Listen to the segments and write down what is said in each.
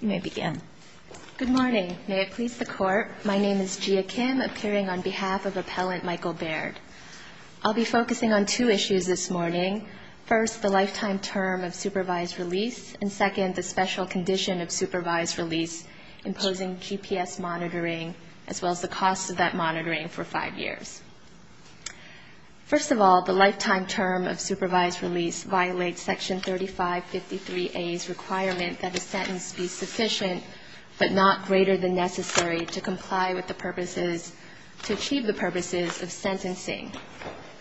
You may begin. Good morning. May it please the Court. My name is Jia Kim, appearing on behalf of Appellant Michael Baird. I'll be focusing on two issues this morning. First, the lifetime term of supervised release, and second, the special condition of supervised release, imposing GPS monitoring, as well as the cost of that monitoring for five years. First of all, the lifetime term of supervised release violates Section 3553A's requirement that a sentence be sufficient but not greater than necessary to comply with the purposes to achieve the purposes of sentencing,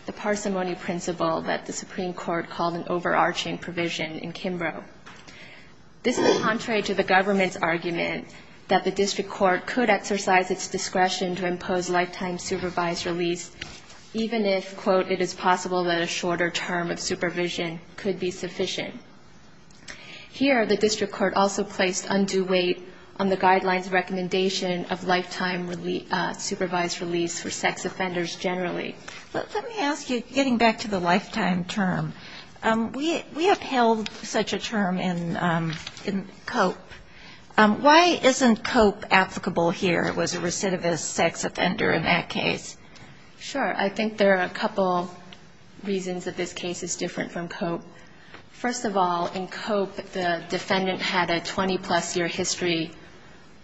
the parsimony principle that the Supreme Court called an overarching provision in Kimbrough. This is contrary to the government's argument that the district court could exercise its discretion to impose lifetime supervised release, even if, quote, it is possible that a shorter term of supervision could be sufficient. Here, the district court also placed undue weight on the guidelines recommendation of lifetime supervised release for sex offenders generally. Let me ask you, getting back to the lifetime term, we upheld such a term in COPE. Why isn't COPE applicable here? It was a recidivist sex offender. Sure. I think there are a couple reasons that this case is different from COPE. First of all, in COPE, the defendant had a 20-plus year history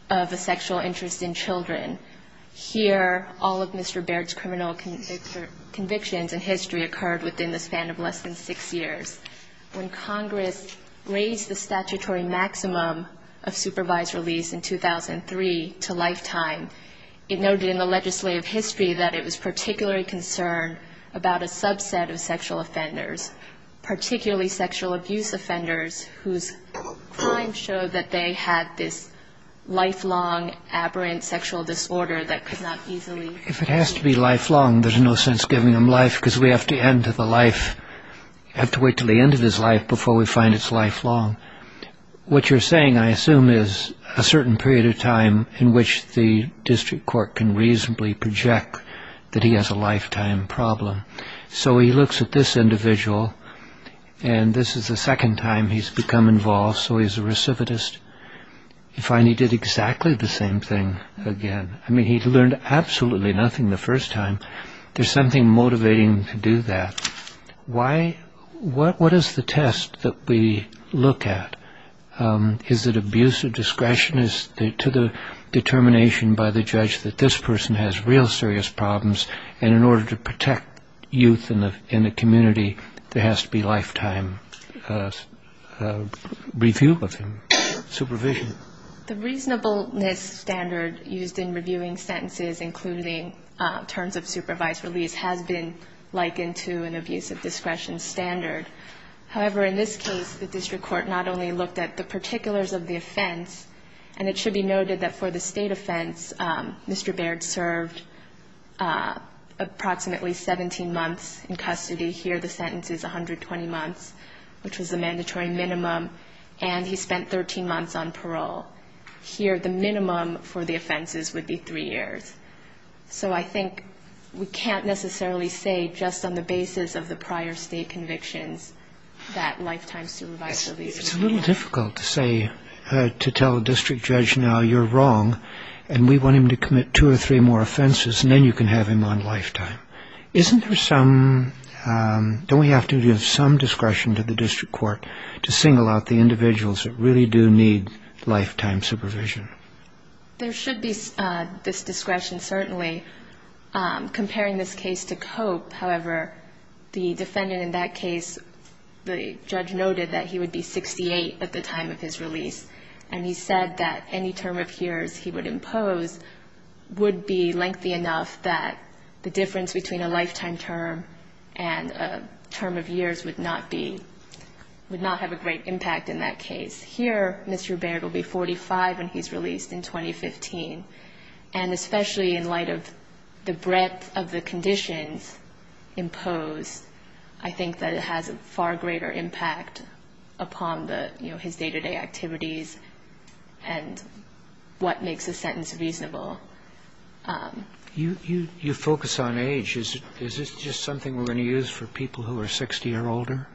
of a sexual interest in children. Here, all of Mr. Baird's criminal convictions in history occurred within the span of less than six years. When Congress raised the statutory maximum of supervised release in 2003 to lifetime, it noted in the legislative history that it was particularly concerned about a subset of sexual offenders, particularly sexual abuse offenders whose crimes showed that they had this lifelong, aberrant sexual disorder that could not easily be eliminated. If it has to be lifelong, there's no sense giving him life, because we have to wait until the end of his life before we find it's lifelong. What you're saying, I assume, is a certain period of time in which the district court can reasonably project that he has a lifetime problem. So he looks at this individual, and this is the second time he's become involved, so he's a recidivist. He did exactly the same thing again. He learned absolutely nothing the first time. There's something motivating him to do that. What is the test that we look at? Is it abuse of discretion? Is it to the determination by the judge that this person has real serious problems, and in order to protect youth in the community, there has to be lifetime review of him, supervision? I think that the way that the district court has looked at the terms of supervised release has been likened to an abuse of discretion standard. However, in this case, the district court not only looked at the particulars of the offense, and it should be noted that for the state offense, Mr. Baird served approximately 17 months in custody. Here, the sentence is 120 months, which was the mandatory minimum, and he spent 13 months on parole. Here, the minimum for the offenses would be three years. So I think we can't necessarily say just on the basis of the prior state convictions that lifetime supervised release would be enough. It's a little difficult to say, to tell a district judge, now, you're wrong, and we want him to commit two or three more offenses, and then you can have him on lifetime. Isn't there some, don't we have to give some discretion to the district court to single out the individuals that really do need some lifetime supervision? There should be this discretion, certainly. Comparing this case to Cope, however, the defendant in that case, the judge noted that he would be 68 at the time of his release, and he said that any term of years he would impose would be lengthy enough that the difference between a lifetime term and a term of years would not be, would not have a great impact in that case. Here, Mr. Baird will be 45 when he's released in 2015, and especially in light of the breadth of the conditions imposed, I think that it has a far greater impact upon the, you know, his day-to-day activities and what makes a sentence reasonable. You focus on age. Is this just something we're going to use for people who are 60 or older?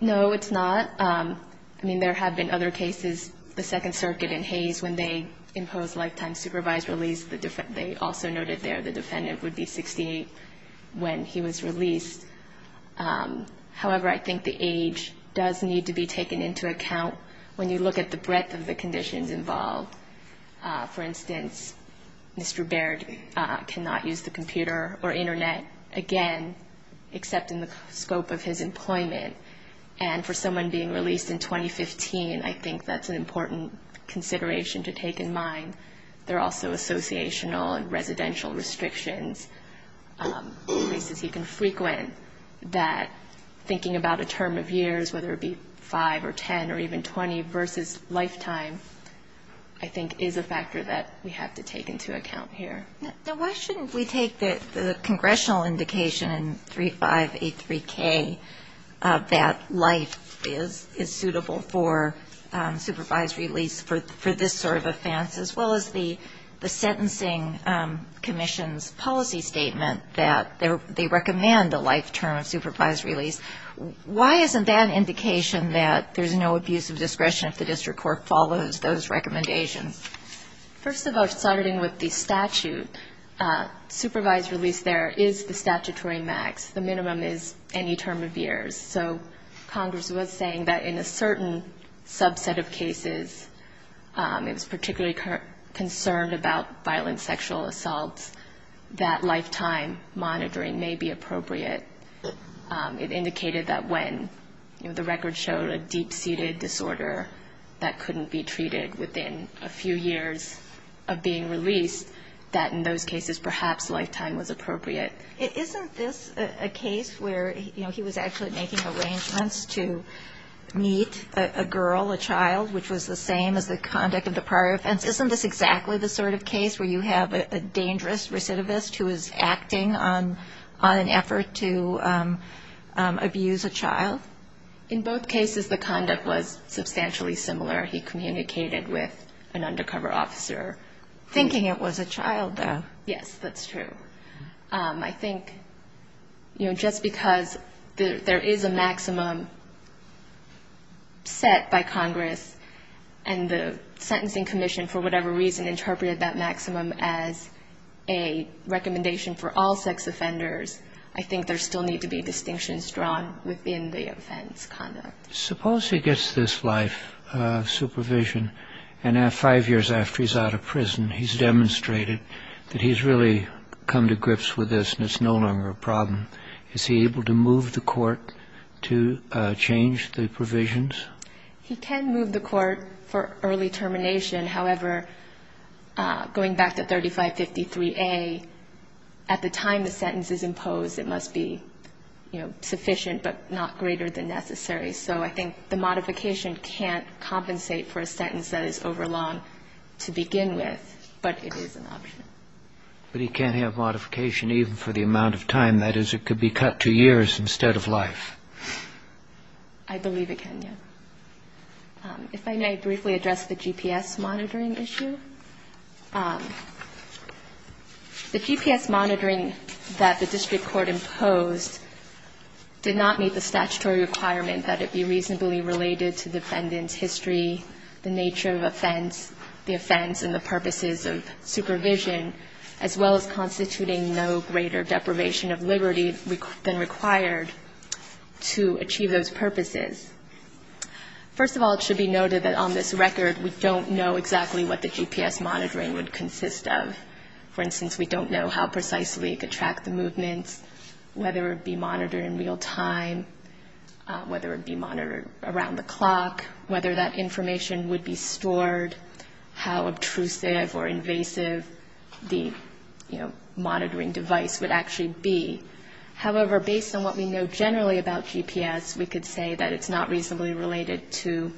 No, it's not. I mean, there have been other cases. The Second Circuit in Hays, when they imposed lifetime supervised release, they also noted there the defendant would be 68 when he was released. However, I think the age does need to be taken into account when you look at the breadth of the conditions involved. For instance, Mr. Baird cannot use the computer or Internet, again, except in the scope of his employment. And for someone being released in 2015, I think that's an important consideration to take in mind. There are also associational and residential restrictions, places he can frequent, that thinking about a term of years, whether it be 5 or 10 or even 20, versus lifetime, I think that's an important consideration. I think is a factor that we have to take into account here. Now, why shouldn't we take the congressional indication in 3583K that life is suitable for supervised release for this sort of offense, as well as the sentencing commission's policy statement that they recommend a lifetime of supervised release? Why isn't that an indication that there's no abuse of power? Why isn't that a recommendation? First of all, starting with the statute, supervised release there is the statutory max. The minimum is any term of years. So Congress was saying that in a certain subset of cases, it was particularly concerned about violent sexual assaults, that lifetime monitoring may be appropriate. It indicated that when, you know, the record showed a deep-seated disorder that couldn't be treated within a few years of being released, that in those cases, perhaps lifetime was appropriate. Isn't this a case where, you know, he was actually making arrangements to meet a girl, a child, which was the same as the conduct of the prior offense? Isn't this exactly the sort of case where you have a dangerous recidivist who is acting on an effort to, you know, get away with abuse a child? In both cases, the conduct was substantially similar. He communicated with an undercover officer. Thinking it was a child, though. Yes, that's true. I think, you know, just because there is a maximum set by Congress, and the sentencing commission, for whatever reason, interpreted that maximum as a recommendation for all sex offenders, I think there still need to be distinctions drawn within the offense conduct. Suppose he gets this life supervision, and five years after he's out of prison, he's demonstrated that he's really come to grips with this, and it's no longer a problem. Is he able to move the court to change the provisions? He can move the court for early termination. However, going back to 3553A, at the time the sentence is imposed, it must be, you know, sufficient, but not greater than necessary. So I think the modification can't compensate for a sentence that is overlong to begin with, but it is an option. But he can't have modification even for the amount of time. That is, it could be cut to years instead of life. I believe it can, yes. If I may briefly address the GPS monitoring issue. The GPS monitoring that the district court imposed did not meet the statutory requirement that it be reasonably related to the defendant's history, the nature of offense, the offense and the purposes of supervision, as well as constituting no greater deprivation of liberty than required to achieve those purposes. First of all, it should be noted that on this record, we don't know exactly what the GPS monitoring would consist of. For instance, we don't know how precisely it could track the movements, whether it would be monitored in real time, whether it would be monitored around the clock, whether that information would be stored, how obtrusive or invasive the, you know, the GPS, we could say that it's not reasonably related to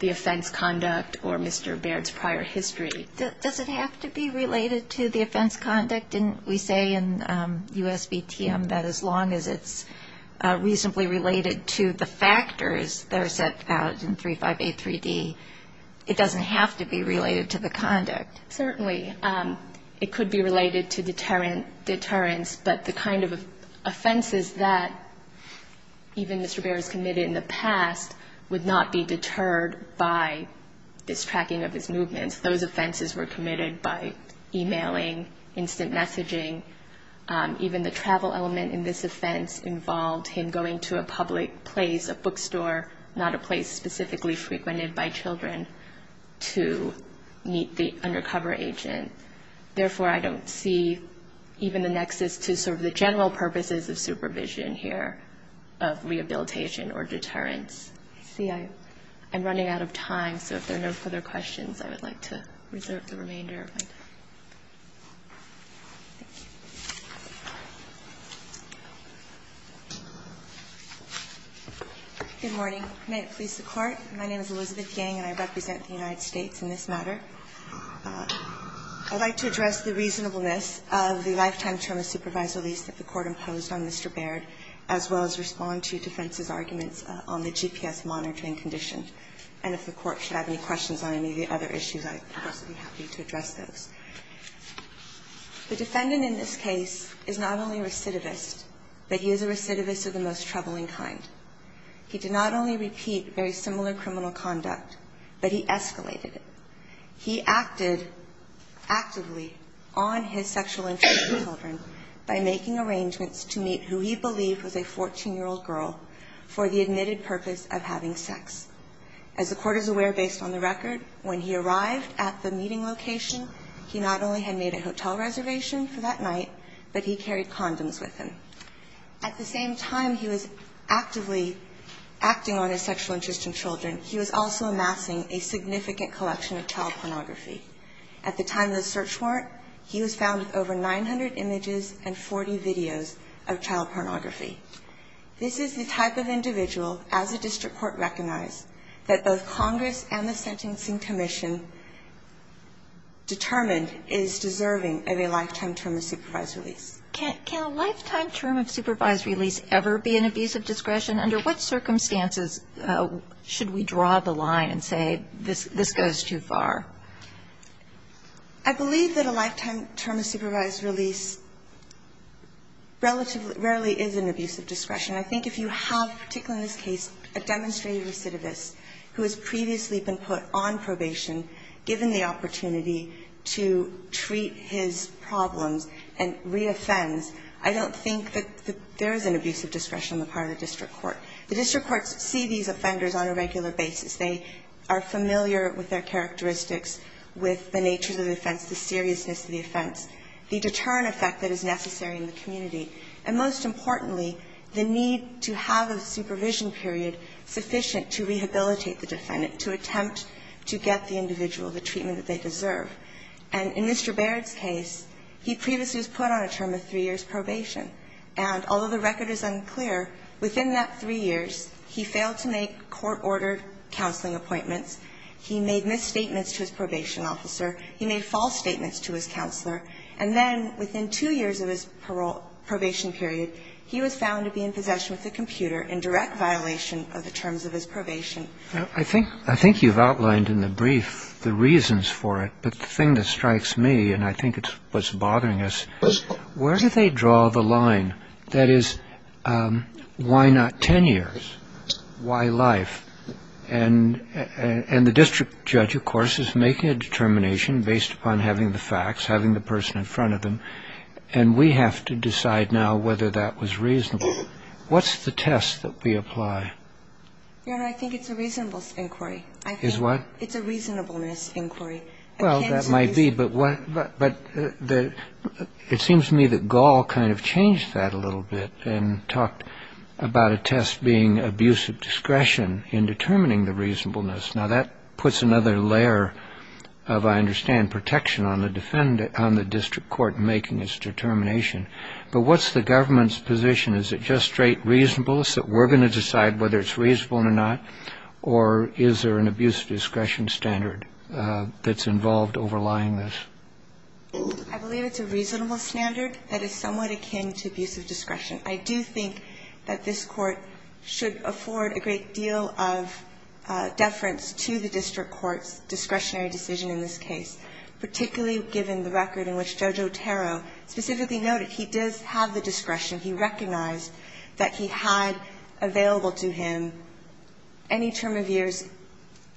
the offense conduct or Mr. Baird's prior history. Does it have to be related to the offense conduct? Didn't we say in U.S.V.T.M. that as long as it's reasonably related to the factors that are set out in 3583D, it doesn't have to be related to the conduct? Certainly. It could be related to deterrents, but the kind of offenses that, you know, even Mr. Baird's committed in the past would not be deterred by this tracking of his movements. Those offenses were committed by e-mailing, instant messaging. Even the travel element in this offense involved him going to a public place, a bookstore, not a place specifically frequented by children, to meet the undercover agent. Therefore, I don't see even the nexus to sort of the general purposes of supervision here of re-enactment. I don't see the need for rehabilitation or deterrence. I see I'm running out of time, so if there are no further questions, I would like to reserve the remainder of my time. Good morning. May it please the Court. My name is Elizabeth Yang, and I represent the United States in this matter. I would like to address the reasonableness of the lifetime term of supervisory lease that the Court imposed on Mr. Baird, as well as respond to defense's arguments on the GPS monitoring condition. And if the Court should have any questions on any of the other issues, I would also be happy to address those. The defendant in this case is not only a recidivist, but he is a recidivist of the most troubling kind. He did not only repeat very similar criminal conduct, but he escalated it. He acted actively on his sexual interest in children by making arrangements to meet who he believed was a 14-year-old girl for the admitted purpose of having sex. As the Court is aware, based on the record, when he arrived at the meeting location, he not only had made a hotel reservation for that night, but he carried condoms with him. At the same time he was actively acting on his sexual interest in children, he was also amassing a significant collection of child pornography. At the time of the search warrant, he was found with over 900 images and 40 videos of child pornography. This is the type of individual, as a district court recognized, that both Congress and the Sentencing Commission determined is deserving of a lifetime term of supervisory lease. Kagan. Can a lifetime term of supervisory lease ever be an abuse of discretion? Under what circumstances should we draw the line and say this goes too far? I believe that a lifetime term of supervised release relatively rarely is an abuse of discretion. I think if you have, particularly in this case, a demonstrated recidivist who has previously been put on probation, given the opportunity to treat his problems and reoffends, I don't think that there is an abuse of discretion on the part of the district court. The district courts see these offenders on a regular basis. They are familiar with their characteristics, with the nature of the offense, the seriousness of the offense, the deterrent effect that is necessary in the community, and most importantly, the need to have a supervision period sufficient to rehabilitate the defendant, to attempt to get the individual the treatment that they deserve. And in Mr. Baird's case, he previously was put on a term of three years' probation. And although the record is unclear, within that three years, he failed to make court-ordered counseling appointments, he made misstatements to his probation officer, he made false statements to his counselor, and then within two years of his probation period, he was found to be in possession with a computer in direct violation of the terms of his probation. I think you've outlined in the brief the reasons for it, but the thing that strikes me, and I think it's what's bothering us, where do they draw the line? That is, why not 10 years? Why life? And the district judge, of course, is making a determination based upon having the facts, having the person in front of them, and we have to decide now whether that was reasonable. What's the test that we apply? Your Honor, I think it's a reasonableness inquiry. Is what? I think it's a reasonableness inquiry. Well, that might be, but it seems to me that Gall kind of changed that a little bit and talked about a test being abuse of discretion in determining the reasonableness. Now, that puts another layer of, I understand, protection on the district court making its determination. But what's the government's position? Is it just straight reasonableness that we're going to decide whether it's reasonable or not, or is there an abuse of discretion standard that's involved overlying this? I believe it's a reasonable standard that is somewhat akin to abuse of discretion. I do think that this Court should afford a great deal of deference to the district court's discretionary decision in this case, particularly given the record in which Judge Otero specifically noted he does have the discretion. He recognized that he had available to him any term of years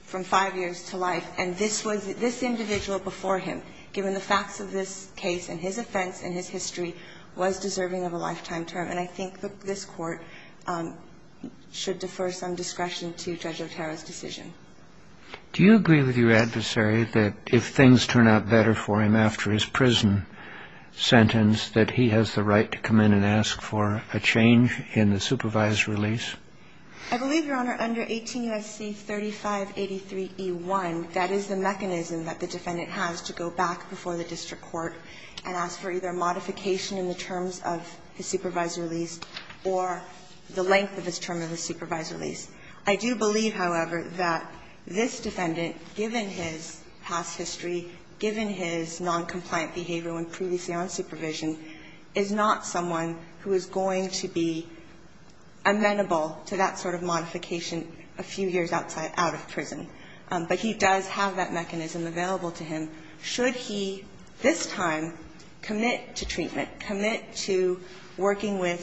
from five years to life, and this was this individual before him, given the facts of this case and his offense and his history, was deserving of a lifetime term. And I think that this Court should defer some discretion to Judge Otero's decision. Do you agree with your adversary that if things turn out better for him after his prison sentence, that he has the right to come in and ask for a change in the supervised release? I believe, Your Honor, under 18 U.S.C. 3583e1, that is the mechanism that the defendant has to go back before the district court and ask for either modification in the terms of his supervised release or the length of his term of his supervised release. I do believe, however, that this defendant, given his past history, given his noncompliant behavior when previously on supervision, is not someone who is going to be amenable to that sort of modification a few years outside of prison. But he does have that mechanism available to him. Should he this time commit to treatment, commit to working with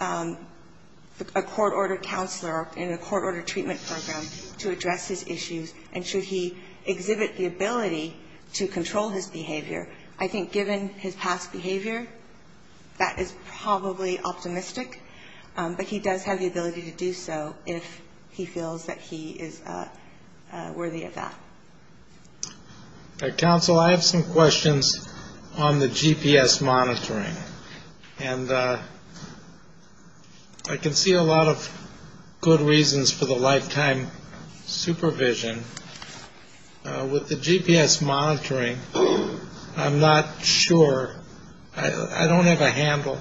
a court-ordered counselor in a court-ordered treatment program to address his issues, and should he exhibit the ability to control his behavior, I think given his past behavior, that is probably optimistic. But he does have the ability to do so if he feels that he is worthy of that. Counsel, I have some questions on the GPS monitoring. And I can see a lot of good reasons for the lifetime supervision. With the GPS monitoring, I'm not sure. I don't have a handle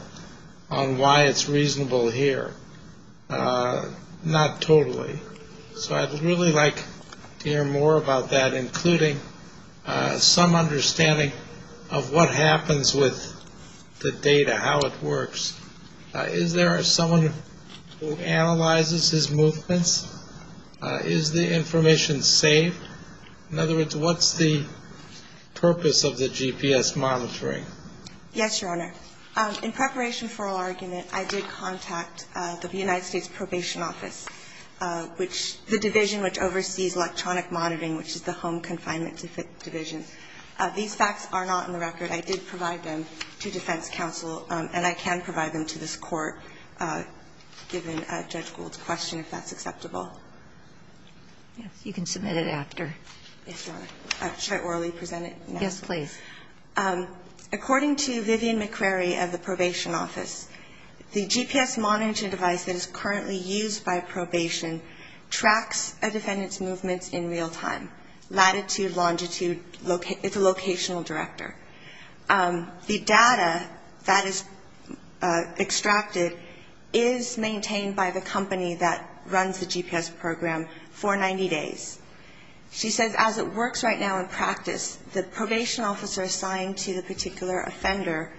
on why it's reasonable here. Not totally. So I'd really like to hear more about that, including some understanding of what happens with the data, how it works. Is there someone who analyzes his movements? Is the information saved? In other words, what's the purpose of the GPS monitoring? Yes, Your Honor. In preparation for our argument, I did contact the United States Probation Office, which the division which oversees electronic monitoring, which is the Home Confinement Division. These facts are not on the record. I did provide them to defense counsel, and I can provide them to this Court, given Judge Gould's question, if that's acceptable. Yes. You can submit it after. Yes, Your Honor. Should I orally present it? Yes, please. According to Vivian McCrary of the Probation Office, the GPS monitoring device that is currently used by probation tracks a defendant's movements in real time, latitude, longitude. It's a locational director. The data that is extracted is maintained by the company that runs the GPS program for 90 days. She says, as it works right now in practice, the probation officer assigned to the particular offender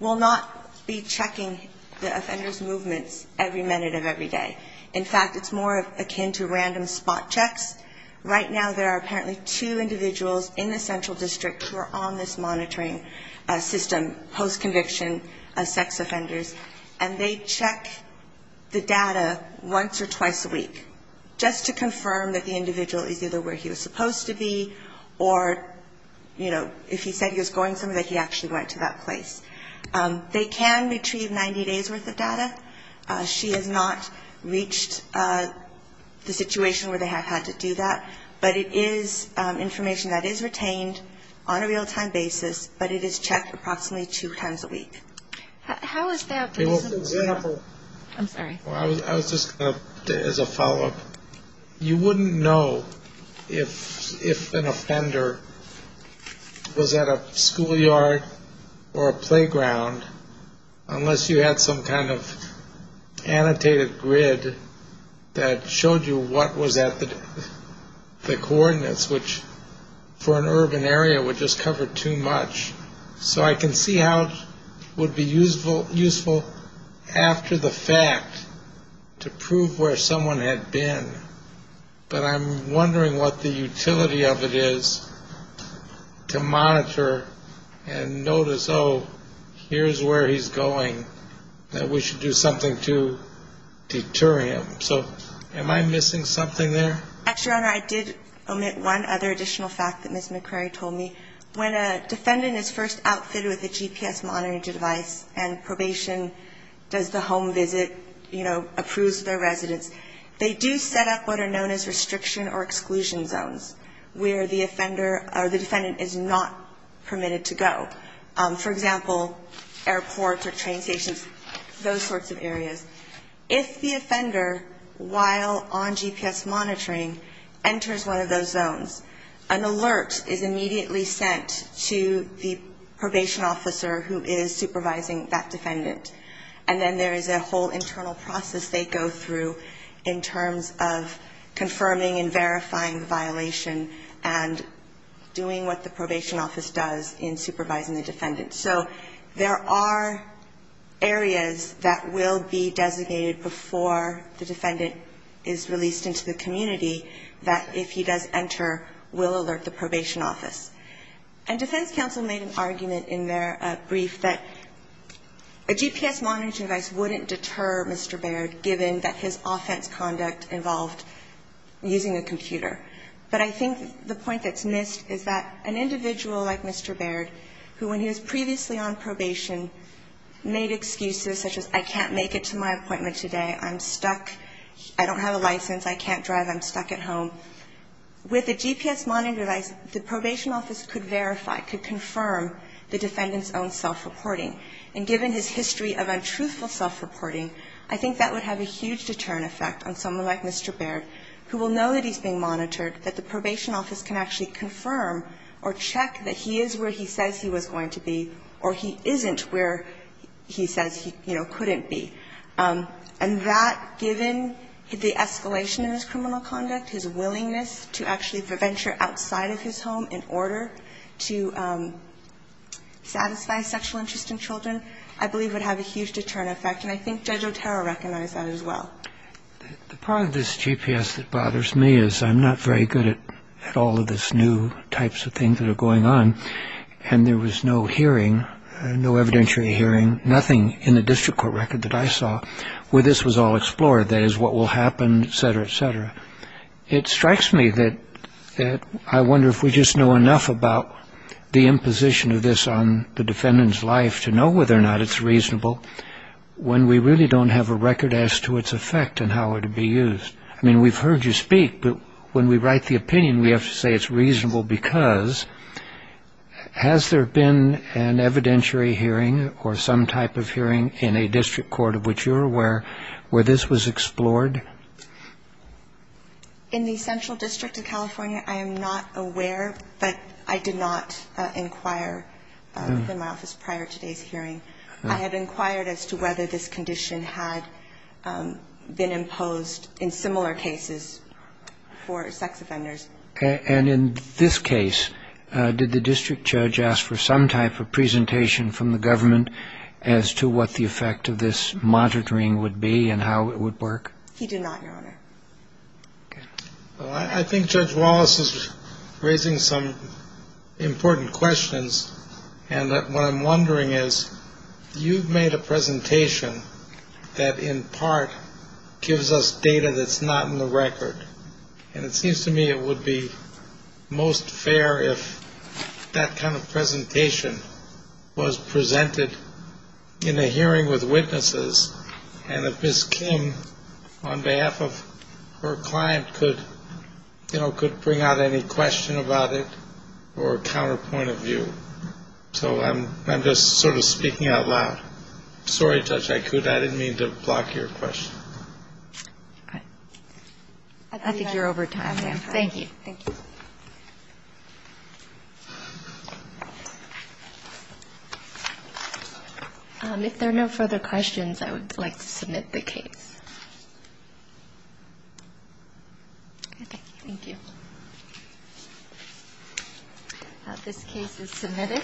will not be checking the offender's movements every minute of every day. In fact, it's more akin to random spot checks. Right now there are apparently two individuals in the central district who are on this monitoring system post-conviction as sex offenders, and they check the data once or twice a week just to confirm that the individual is either where he was supposed to be or, you know, if he said he was going somewhere, that he actually went to that place. They can retrieve 90 days' worth of data. She has not reached the situation where they have had to do that. But it is information that is retained on a real-time basis, but it is checked approximately two times a week. How is that? I'm sorry. I was just going to, as a follow-up, you wouldn't know if an offender was at a grid that showed you what was at the coordinates, which for an urban area would just cover too much. So I can see how it would be useful after the fact to prove where someone had been. But I'm wondering what the utility of it is to monitor and notice, oh, here's where he's going, that we should do something to deter him. So am I missing something there? Actually, Your Honor, I did omit one other additional fact that Ms. McCrary told me. When a defendant is first outfitted with a GPS monitoring device and probation does the home visit, you know, approves their residence, they do set up what are known as restriction or exclusion zones where the offender or the defendant is not permitted to go. For example, airports or train stations, those sorts of areas. If the offender, while on GPS monitoring, enters one of those zones, an alert is immediately sent to the probation officer who is supervising that defendant. And then there is a whole internal process they go through in terms of confirming and verifying the violation and doing what the probation office does in supervising the defendant. So there are areas that will be designated before the defendant is released into the community that, if he does enter, will alert the probation office. And defense counsel made an argument in their brief that a GPS monitoring device wouldn't deter Mr. Baird given that his offense conduct involved using a computer. But I think the point that's missed is that an individual like Mr. Baird, who when he was previously on probation made excuses such as, I can't make it to my appointment today, I'm stuck, I don't have a license, I can't drive, I'm stuck at home, with a GPS monitoring device, the probation office could verify, could confirm the defendant's own self-reporting. And given his history of untruthful self-reporting, I think that would have a huge deterrent effect on someone like Mr. Baird, who will know that he's being monitored, that the probation office can actually confirm or check that he is where he says he was going to be or he isn't where he says he, you know, couldn't be. And that, given the escalation in his criminal conduct, his willingness to actually venture outside of his home in order to satisfy sexual interest in children, I believe would have a huge deterrent effect. And I think Judge Otero recognized that as well. The part of this GPS that bothers me is I'm not very good at all of this new types of things that are going on, and there was no hearing, no evidentiary hearing, nothing in the district court record that I saw where this was all explored. That is, what will happen, et cetera, et cetera. It strikes me that I wonder if we just know enough about the imposition of this on the defendant's life to know whether or not it's reasonable when we really don't have a record as to its effect and how it would be used. I mean, we've heard you speak, but when we write the opinion, we have to say it's reasonable because has there been an evidentiary hearing or some type of hearing in a district court of which you're aware where this was explored? In the Central District of California, I am not aware, but I did not inquire within my office prior to today's hearing. I had inquired as to whether this condition had been imposed in similar cases for sex offenders. And in this case, did the district judge ask for some type of presentation from the government as to what the effect of this monitoring would be and how it would work? He did not, Your Honor. Okay. Well, I think Judge Wallace is raising some important questions, and what I'm wondering is, you've made a presentation that in part gives us data that's not in the record, and it seems to me it would be most fair if that kind of presentation was presented in a hearing with witnesses, and if Ms. Kim, on behalf of her client, could, you know, could bring out any question about it or a counterpoint of view. So I'm just sort of speaking out loud. Sorry, Judge Aikuda. I didn't mean to block your question. Okay. I think you're over time, ma'am. Thank you. Thank you. If there are no further questions, I would like to submit the case. Okay. Thank you. This case is submitted.